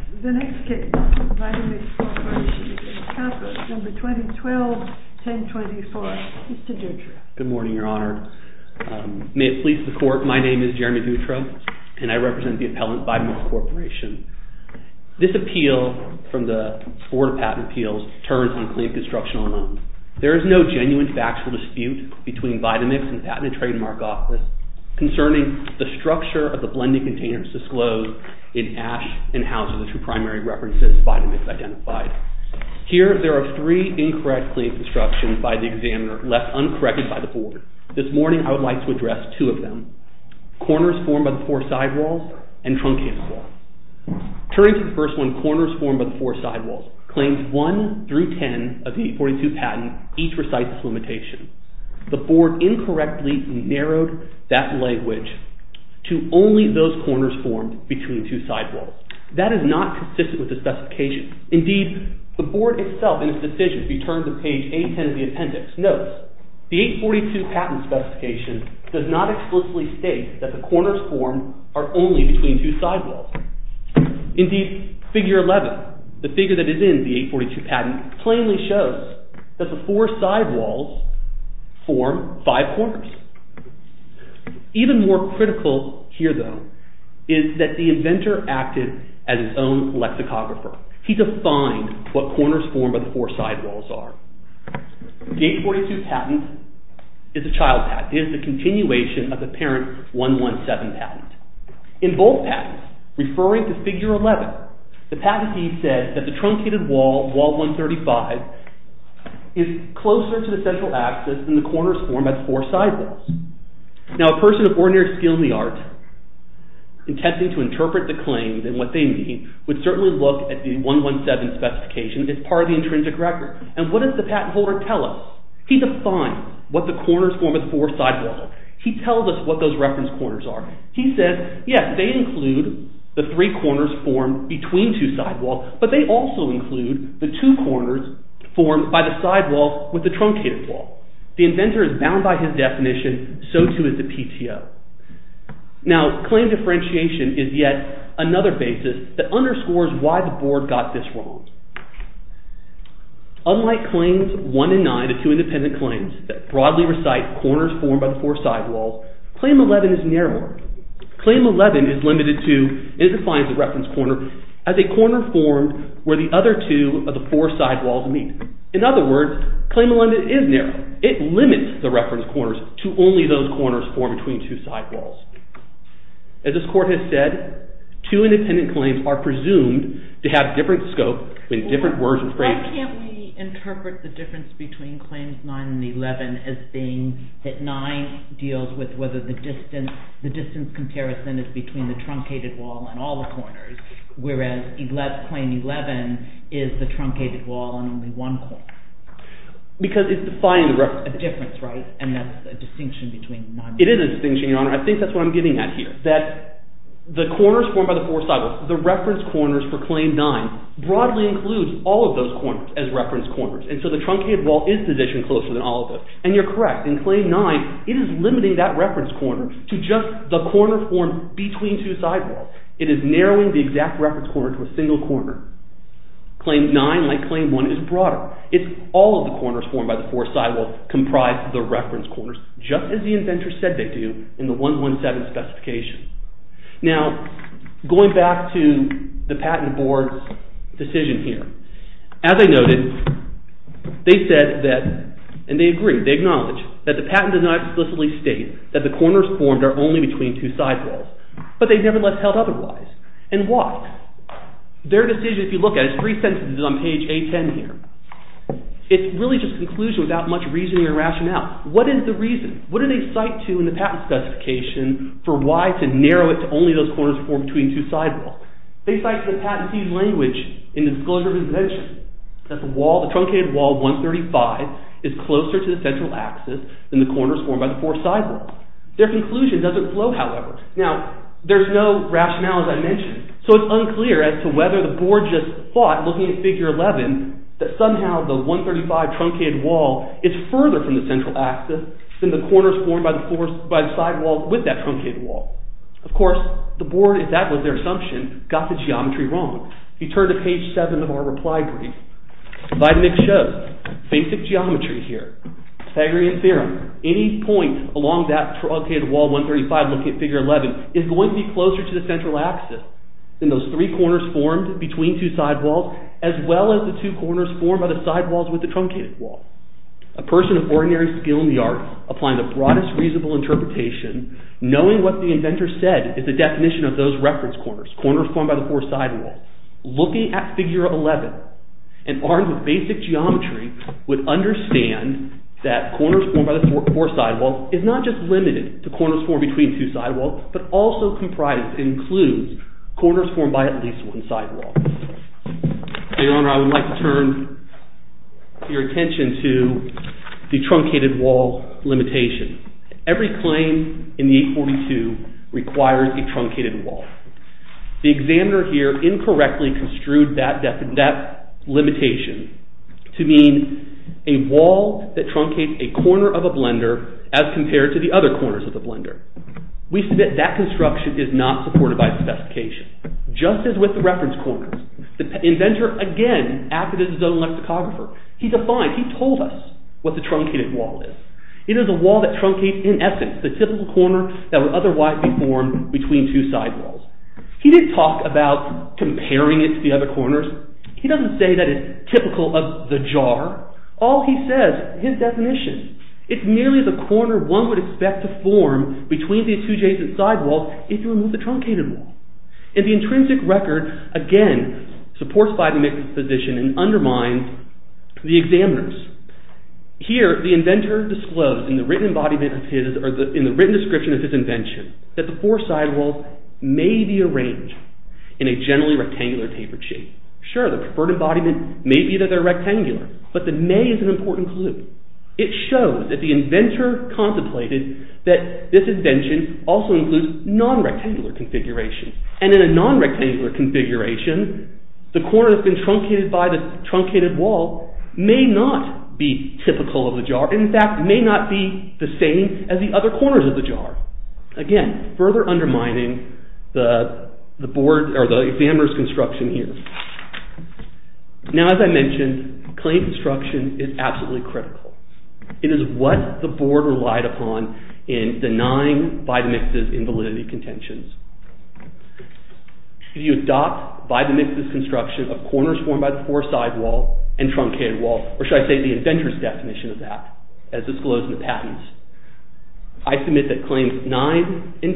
2012-1024 Mr. Dutro. Good morning Your Honor. May it please the court, my name is Jeremy Dutro and I represent the appellant VITA MIX CORP. This appeal from the Board of Patent Appeals turns on plain constructional loans. There is no genuine factual dispute between VITA MIX and the Patent and Trademark Office concerning the structure of the blending containers disclosed in Ash and Houser, the two primary references VITA MIX identified. Here there are three incorrect claims instructions by the examiner left uncorrected by the Board. This morning I would like to address two of them, Corners Formed by the Four Sidewalls and Truncated Wall. Turning to the first one, Corners Formed by the Four Sidewalls, claims 1 through 10 of the 842 patent each recite this limitation. The Board incorrectly narrowed that language to only those corners formed between two sidewalls. That is not consistent with the specification. Indeed, the Board itself in its decision, if you turn to page 810 of the appendix, notes the 842 patent specification does not explicitly state that the corners formed are only between two sidewalls. Indeed, figure 11, the figure that is in the 842 patent, plainly shows that the four sidewalls form five corners. Even more critical here though is that the inventor acted as his own lexicographer. He defined what corners formed by the four sidewalls are. The 842 patent is a child patent. It is a continuation of the parent 117 patent. In both patents, referring to figure 11, the patentee said that the truncated wall, wall 135, is closer to the central axis than the corners formed by the four sidewalls. Now, a person of ordinary skill in the art intending to interpret the claims and what they mean would certainly look at the 117 specification as part of the intrinsic record. And what does the patent holder tell us? He defined what the corners formed by the four sidewalls. He tells us what those reference corners are. He says, yes, they include the three corners formed between two sidewalls, but they also include the two corners formed by the sidewalls with the truncated wall. The inventor is bound by his definition. So too is the PTO. Now, claim differentiation is yet another basis that underscores why the board got this wrong. Unlike claims 1 and 9, the two independent claims that broadly recite corners formed by the four sidewalls, claim 11 is narrower. Claim 11 is limited to – it defines the reference corner as a corner formed where the other two of the four sidewalls meet. In other words, claim 11 is narrow. It limits the reference corners to only those corners formed between two sidewalls. As this court has said, two independent claims are presumed to have different scope with different words and phrases. Why can't we interpret the difference between claims 9 and 11 as being that 9 deals with whether the distance comparison is between the truncated wall and all the corners, whereas claim 11 is the truncated wall and only one corner? Because it's defining the reference. A difference, right? And that's a distinction between none. It is a distinction, Your Honor. I think that's what I'm getting at here, that the corners formed by the four sidewalls, the reference corners for claim 9, broadly includes all of those corners as reference corners. And so the truncated wall is positioned closer than all of those. And you're correct. In claim 9, it is limiting that reference corner to just the corner formed between two sidewalls. It is narrowing the exact reference corner to a single corner. Claim 9, like claim 1, is broader. It's all of the corners formed by the four sidewalls comprised of the reference corners, just as the inventor said they do in the 117 specification. Now, going back to the Patent Board's decision here, as I noted, they said that – and they agree, they acknowledge – that the patent does not explicitly state that the corners formed are only between two sidewalls. But they nevertheless held otherwise. And why? Their decision, if you look at it, is three sentences on page 810 here. It's really just conclusion without much reasoning or rationale. What is the reason? What do they cite to in the patent specification for why to narrow it to only those corners formed between two sidewalls? They cite the patent to use language in the disclosure of the invention. That the wall, the truncated wall 135, is closer to the central axis than the corners formed by the four sidewalls. Their conclusion doesn't flow, however. Now, there's no rationale, as I mentioned, so it's unclear as to whether the board just thought, looking at figure 11, that somehow the 135 truncated wall is further from the central axis than the corners formed by the sidewalls with that truncated wall. Of course, the board, if that was their assumption, got the geometry wrong. If you turn to page 7 of our reply brief, Vitamix shows basic geometry here. Pythagorean theorem. Any point along that truncated wall 135, looking at figure 11, is going to be closer to the central axis than those three corners formed between two sidewalls, as well as the two corners formed by the sidewalls with the truncated wall. A person of ordinary skill in the art, applying the broadest reasonable interpretation, knowing what the inventor said is the definition of those reference corners, corners formed by the four sidewalls. Looking at figure 11, and armed with basic geometry, would understand that corners formed by the four sidewalls is not just limited to corners formed between two sidewalls, but also comprises, includes, corners formed by at least one sidewall. Your Honor, I would like to turn your attention to the truncated wall limitation. Every claim in the 842 requires a truncated wall. The examiner here incorrectly construed that limitation to mean a wall that truncates a corner of a blender as compared to the other corners of the blender. We submit that construction is not supported by the specification. Just as with the reference corners, the inventor again acted as his own lexicographer. He defined, he told us what the truncated wall is. It is a wall that truncates, in essence, the typical corner that would otherwise be formed between two sidewalls. He didn't talk about comparing it to the other corners. He doesn't say that it's typical of the jar. All he says is his definition. It merely is a corner one would expect to form between these two adjacent sidewalls if you remove the truncated wall. And the intrinsic record, again, supports by the misposition and undermines the examiner's. Here, the inventor disclosed in the written embodiment of his, or in the written description of his invention, that the four sidewalls may be arranged in a generally rectangular tapered shape. Sure, the preferred embodiment may be that they're rectangular, but the may is an important clue. It shows that the inventor contemplated that this invention also includes non-rectangular configuration. And in a non-rectangular configuration, the corner that's been truncated by the truncated wall may not be typical of the jar. In fact, it may not be the same as the other corners of the jar. Again, further undermining the board or the examiner's construction here. Now, as I mentioned, claim construction is absolutely critical. It is what the board relied upon in denying Vitamix's invalidity contentions. If you adopt Vitamix's construction of corners formed by the four sidewall and truncated wall, or should I say the inventor's definition of that, as disclosed in the patents, I submit that claims 9 and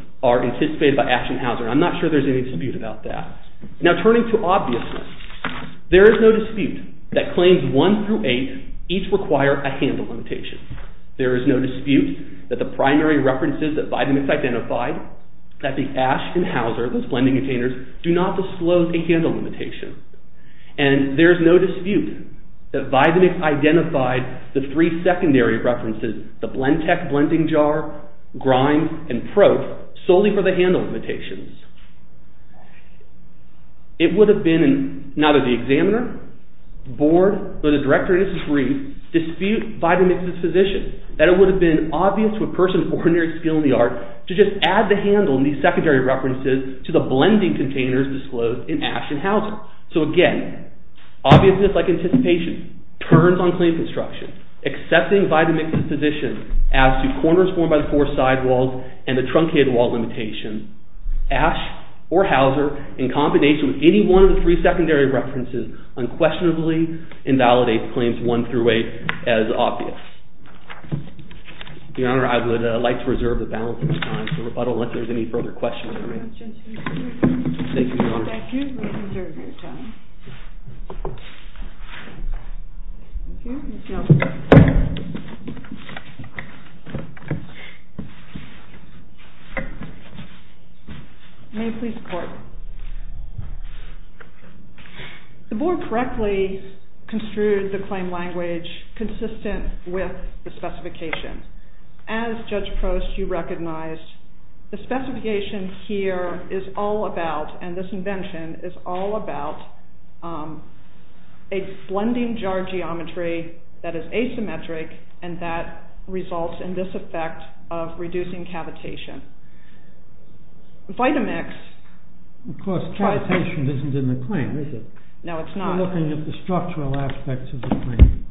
10 are anticipated by Asch and Hauser, and I'm not sure there's any dispute about that. Now, turning to obviousness, there is no dispute that claims 1 through 8 each require a handle limitation. There is no dispute that the primary references that Vitamix identified, that the Asch and Hauser, those blending containers, do not disclose a handle limitation. And there is no dispute that Vitamix identified the three secondary references, the Blendtec blending jar, grind, and probe, solely for the handle limitations. It would have been, not of the examiner, the board, or the director in his degree, dispute Vitamix's position, that it would have been obvious to a person of ordinary skill in the art to just add the handle and these secondary references to the blending containers disclosed in Asch and Hauser. So again, obviousness, like anticipation, turns on claim construction. Accepting Vitamix's position as to corners formed by the four sidewalls and the truncated wall limitation, Asch or Hauser, in combination with any one of the three secondary references, unquestionably invalidates claims 1 through 8 as obvious. Your Honor, I would like to reserve the balance of time, so I don't know if there's any further questions. May I please report? The board correctly construed the claim language consistent with the specification. As Judge Prost, you recognized, the specification here is all about, and this invention is all about, a blending jar geometry that is asymmetric and that results in this effect of reducing cavitation. Vitamix... Of course, cavitation isn't in the claim, is it? No, it's not. We're looking at the structural aspects of the claim.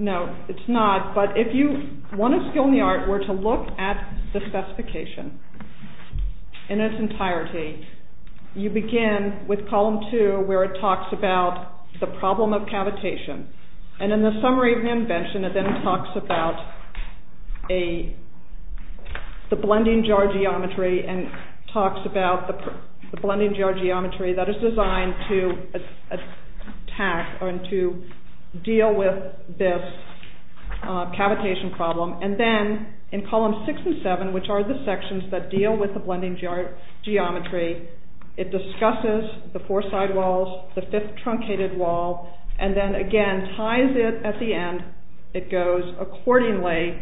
No, it's not, but if you, one of skill in the art were to look at the specification in its entirety, you begin with column 2 where it talks about the problem of cavitation, and in the summary of the invention, it then talks about the blending jar geometry and talks about the blending jar geometry that is designed to deal with this cavitation problem, and then in column 6 and 7, which are the sections that deal with the blending jar geometry, it discusses the four sidewalls, the fifth truncated wall, and then again ties it at the end, it goes accordingly,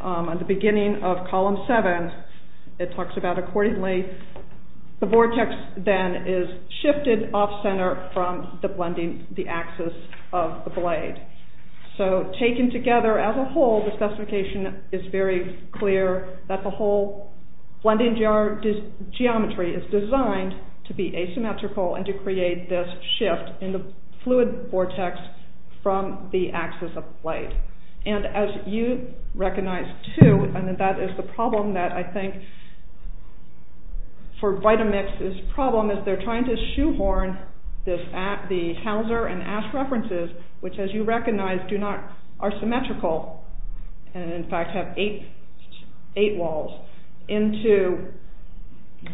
at the beginning of column 7, it talks about accordingly, the vortex then is shifted off center from the blending, the axis of the blade. So, taken together as a whole, the specification is very clear that the whole blending jar geometry is designed to be asymmetrical and to create this shift in the fluid vortex from the axis of the blade. And as you recognize too, and that is the problem that I think, for Vitamix, this problem is they're trying to shoehorn the Hauser and Ash references, which as you recognize do not, are symmetrical, and in fact have eight walls, into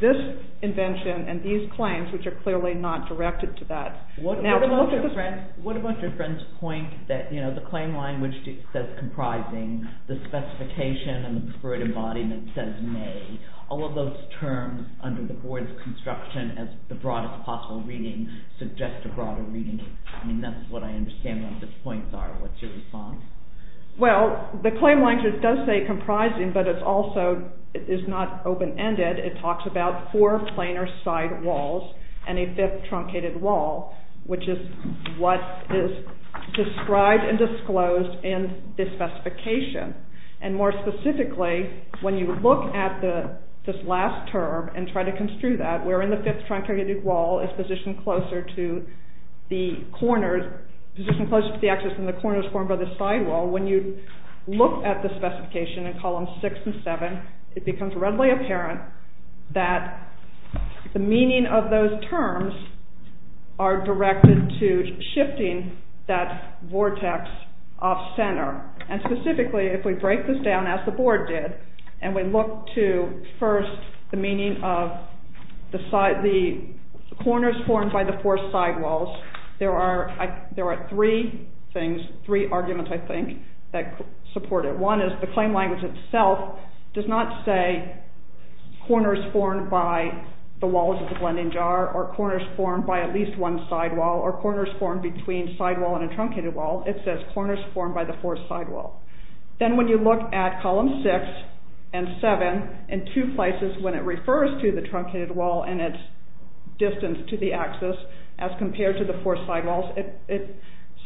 this invention and these claims, which are clearly not directed to that. What about your friend's point that the claim language says comprising, the specification and the preferred embodiment says made, all of those terms under the board of construction as the broadest possible reading suggest a broader reading, I mean that's what I understand what the points are, what's your response? Well, the claim language does say comprising, but it's also, it is not open-ended, it talks about four planar side walls and a fifth truncated wall, which is what is described and disclosed in this specification, and more specifically, when you look at this last term and try to construe that, where in the fifth truncated wall is positioned closer to the corners, positioned closer to the axis than the corners formed by the side wall, when you look at the specification in columns six and seven, it becomes readily apparent that the meaning of those terms are directed to shifting that vortex off center, and specifically if we break this down as the board did, and we look to first the meaning of the corners formed by the four side walls, there are three things, three arguments I think that support it. One is the claim language itself does not say corners formed by the walls of the blending jar, or corners formed by at least one side wall, or corners formed between side wall and a truncated wall, it says corners formed by the four side wall. Then when you look at column six and seven in two places when it refers to the truncated wall and its distance to the axis as compared to the four side walls, it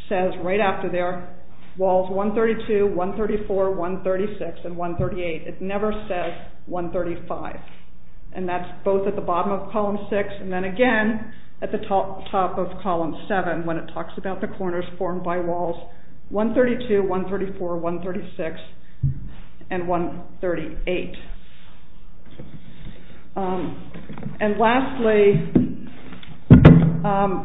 says right after there, walls 132, 134, 136, and 138, it never says 135, and that's both at the bottom of column six and then again at the top of column seven when it talks about the corners formed by walls, 132, 134, 136, and 138. And lastly,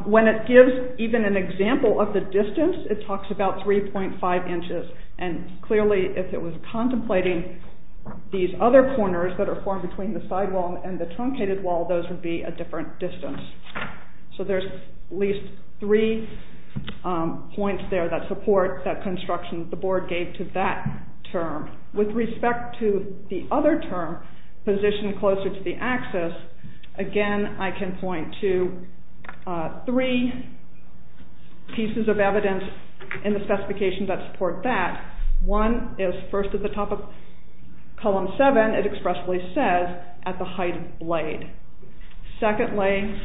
when it gives even an example of the distance, it talks about 3.5 inches, and clearly if it was contemplating these other corners that are formed between the side wall and the truncated wall, those would be a different distance. So there's at least three points there that support that construction the board gave to that term. With respect to the other term, position closer to the axis, again I can point to three pieces of evidence in the specification that support that. One is first at the top of column seven, it expressively says at the height of the blade. Secondly,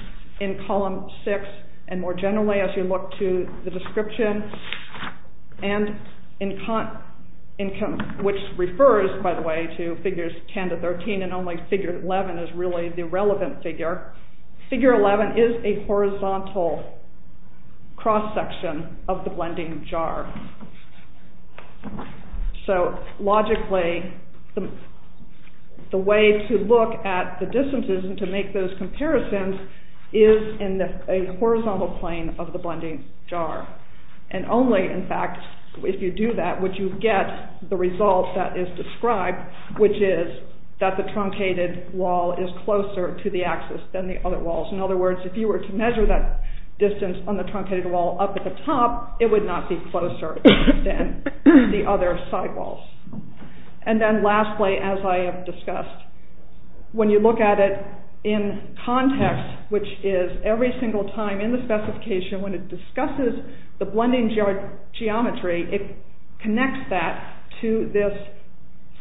in column six and more generally as you look to the description, which refers by the way to figures 10 to 13 and only figure 11 is really the relevant figure, figure 11 is a horizontal cross section of the blending jar. So logically the way to look at the distances and to make those comparisons is in a horizontal plane of the blending jar and only in fact if you do that would you get the result that is described which is that the truncated wall is closer to the axis than the other walls. In other words, if you were to measure that distance on the truncated wall up at the top, it would not be closer than the other side walls. And then lastly as I have discussed, when you look at it in context, which is every single time in the specification when it discusses the blending jar geometry, it connects that to this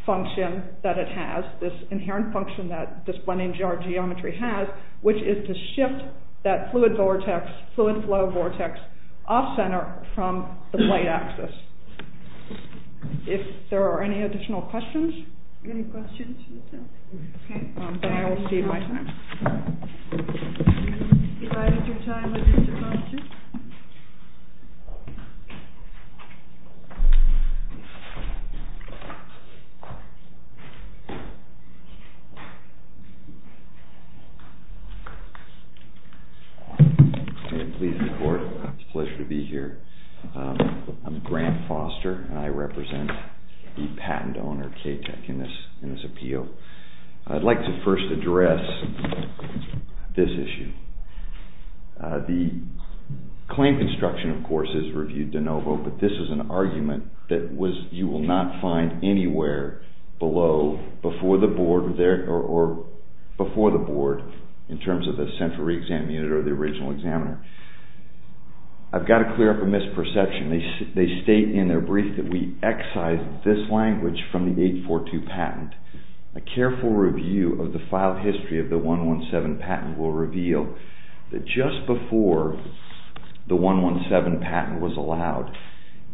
function that it has, this inherent function that this blending jar geometry has, which is to shift that fluid vortex, fluid flow vortex off center from the blade axis. If there are any additional questions? Any questions? Then I will cede my time. Please report. It's a pleasure to be here. I'm Grant Foster and I represent the patent owner KTEC in this appeal. I'd like to first address this issue. The claim construction of course is reviewed de novo but this is an argument that you will not find anywhere below before the board in terms of the central re-exam unit or the original examiner. I've got to clear up a misperception. They state in their brief that we excise this language from the 842 patent. A careful review of the file history of the 117 patent will reveal that just before the 117 patent was allowed,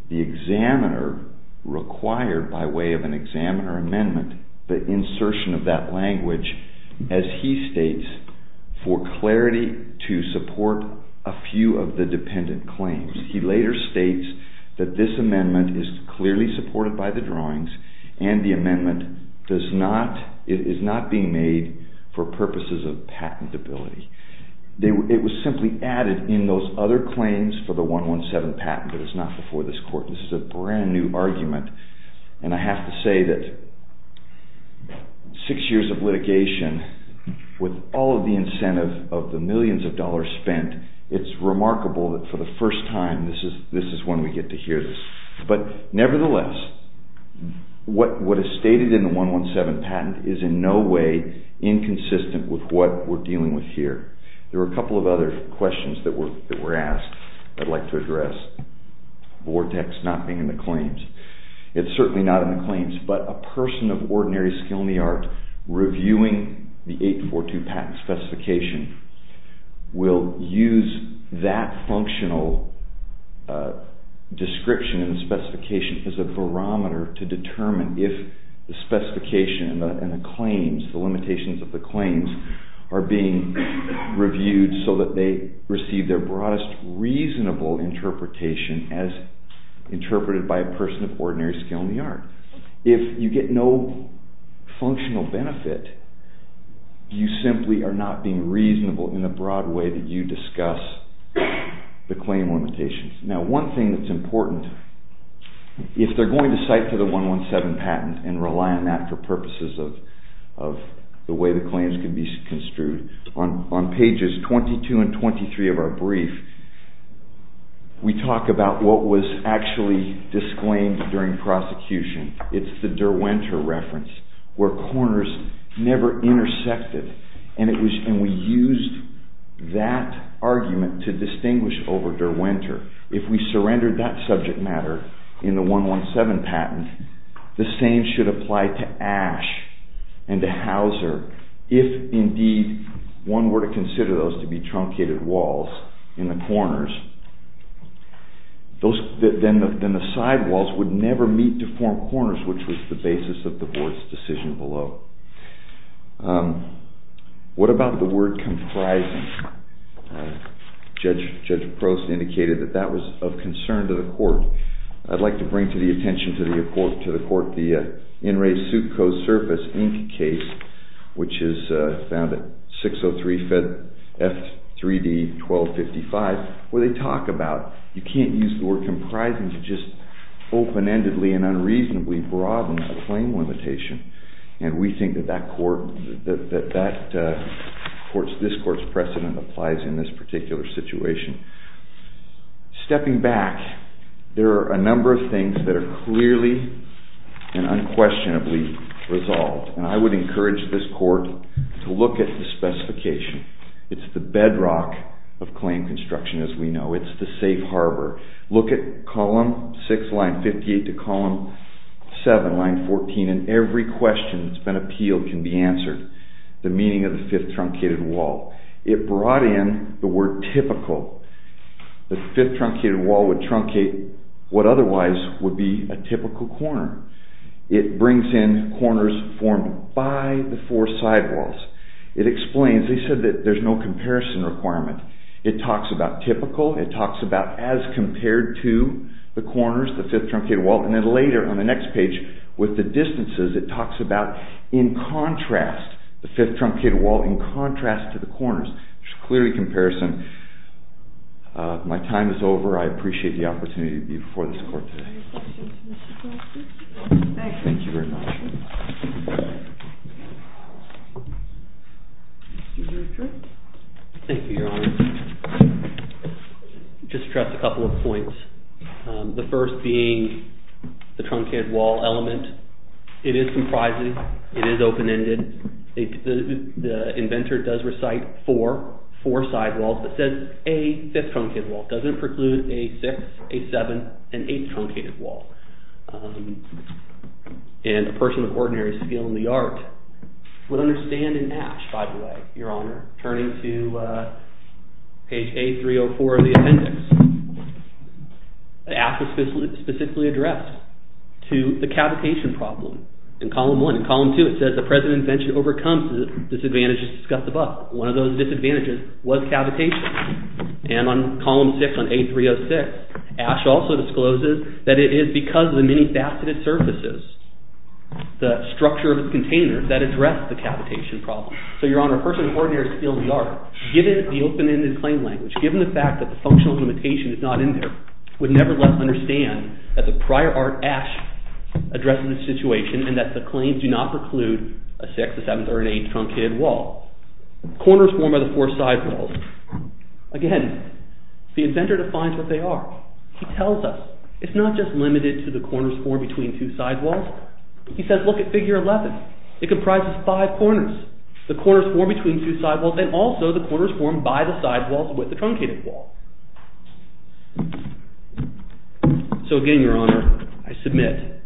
the examiner required by way of an examiner amendment the insertion of that language as he states for clarity to support a few of the dependent claims. He later states that this amendment is clearly supported by the drawings and the amendment is not being made for purposes of patentability. It was simply added in those other claims for the 117 patent but it's not before this court. This is a brand new argument and I have to say that six years of litigation with all of the incentive of the millions of dollars spent, it's remarkable that for the first time this is when we get to hear this. But nevertheless, what is stated in the 117 patent is in no way inconsistent with what we're dealing with here. There are a couple of other questions that were asked that I'd like to address. It's certainly not in the claims but a person of ordinary skill in the art reviewing the 842 patent specification will use that functional description and specification as a barometer to determine if the specification and the claims, the limitations of the claims are being reviewed so that they receive their broadest reasonable interpretation as interpreted by a person of ordinary skill in the art. If you get no functional benefit, you simply are not being reasonable in a broad way that you discuss the claim limitations. Now one thing that's important, if they're going to cite to the 117 patent and rely on that for purposes of the way the claims can be construed, on pages 22 and 23 of our brief, we talk about what was actually disclaimed during prosecution. It's the Derwinter reference where corners never intersected and we used that argument to distinguish over Derwinter. If we surrendered that subject matter in the 117 patent, the same should apply to Ashe and to Hauser. If indeed one were to consider those to be truncated walls in the corners, then the side walls would never meet to form corners which was the basis of the board's decision below. What about the word comprising? Judge Prost indicated that that was of concern to the court. I'd like to bring to the attention to the court the In Re Succo Surface Inc. case which is found at 603 F 3D 1255 where they talk about you can't use the word comprising to just open-endedly and unreasonably broaden the claim limitation. We think that this court's precedent applies in this particular situation. Stepping back, there are a number of things that are clearly and unquestionably resolved. I would encourage this court to look at the specification. It's the bedrock of claim construction as we know. It's the safe harbor. Look at column 6 line 58 to column 7 line 14 and every question that's been appealed can be answered. The meaning of the fifth truncated wall. It brought in the word typical. The fifth truncated wall would truncate what otherwise would be a typical corner. It brings in corners formed by the four side walls. It explains, they said that there's no comparison requirement. It talks about typical. It talks about as compared to the corners, the fifth truncated wall. And then later on the next page with the distances, it talks about in contrast. The fifth truncated wall in contrast to the corners. There's clearly a comparison. My time is over. I appreciate the opportunity to be before this court today. Thank you very much. Thank you. Thank you, your honor. Just a couple of points. The first being the truncated wall element. It is comprising. It is open-ended. The inventor does recite four, four side walls, but says a fifth truncated wall. Doesn't preclude a sixth, a seventh, an eighth truncated wall. And a person with ordinary skill in the art would understand in Ashe, by the way, your honor, turning to page A304 of the appendix. Ashe is specifically addressed to the cavitation problem in column one. In column two, it says the present invention overcomes the disadvantages discussed above. One of those disadvantages was cavitation. And on column six on A306, Ashe also discloses that it is because of the many faceted surfaces, the structure of its container, that addressed the cavitation problem. So your honor, a person with ordinary skill in the art, given the open-ended claim language, given the fact that the functional limitation is not in there, would nevertheless understand that the prior art, Ashe, addresses the situation and that the claims do not preclude a sixth, a seventh, or an eighth truncated wall. Corners formed by the four sidewalls. Again, the inventor defines what they are. He tells us it's not just limited to the corners formed between two sidewalls. He says, look at figure 11. It comprises five corners. The corners formed between two sidewalls and also the corners formed by the sidewalls with the truncated wall. So again, your honor, I submit,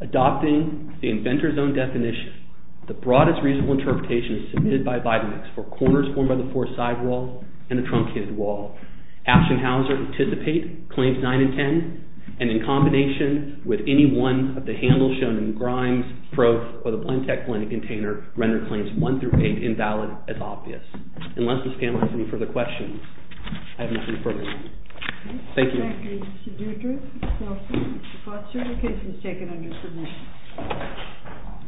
adopting the inventor's own definition, the broadest reasonable interpretation is submitted by Vitamix for corners formed by the four sidewalls and the truncated wall. Ashe and Hauser anticipate claims 9 and 10, and in combination with any one of the handles shown in Grimes, Probe, or the Blendtec Blended Container, render claims 1 through 8 invalid as obvious. Unless Ms. Kammerer has any further questions, I have nothing further to add. Thank you. Thank you, Mr. Deutscher. If not, sir, your case is taken under submission.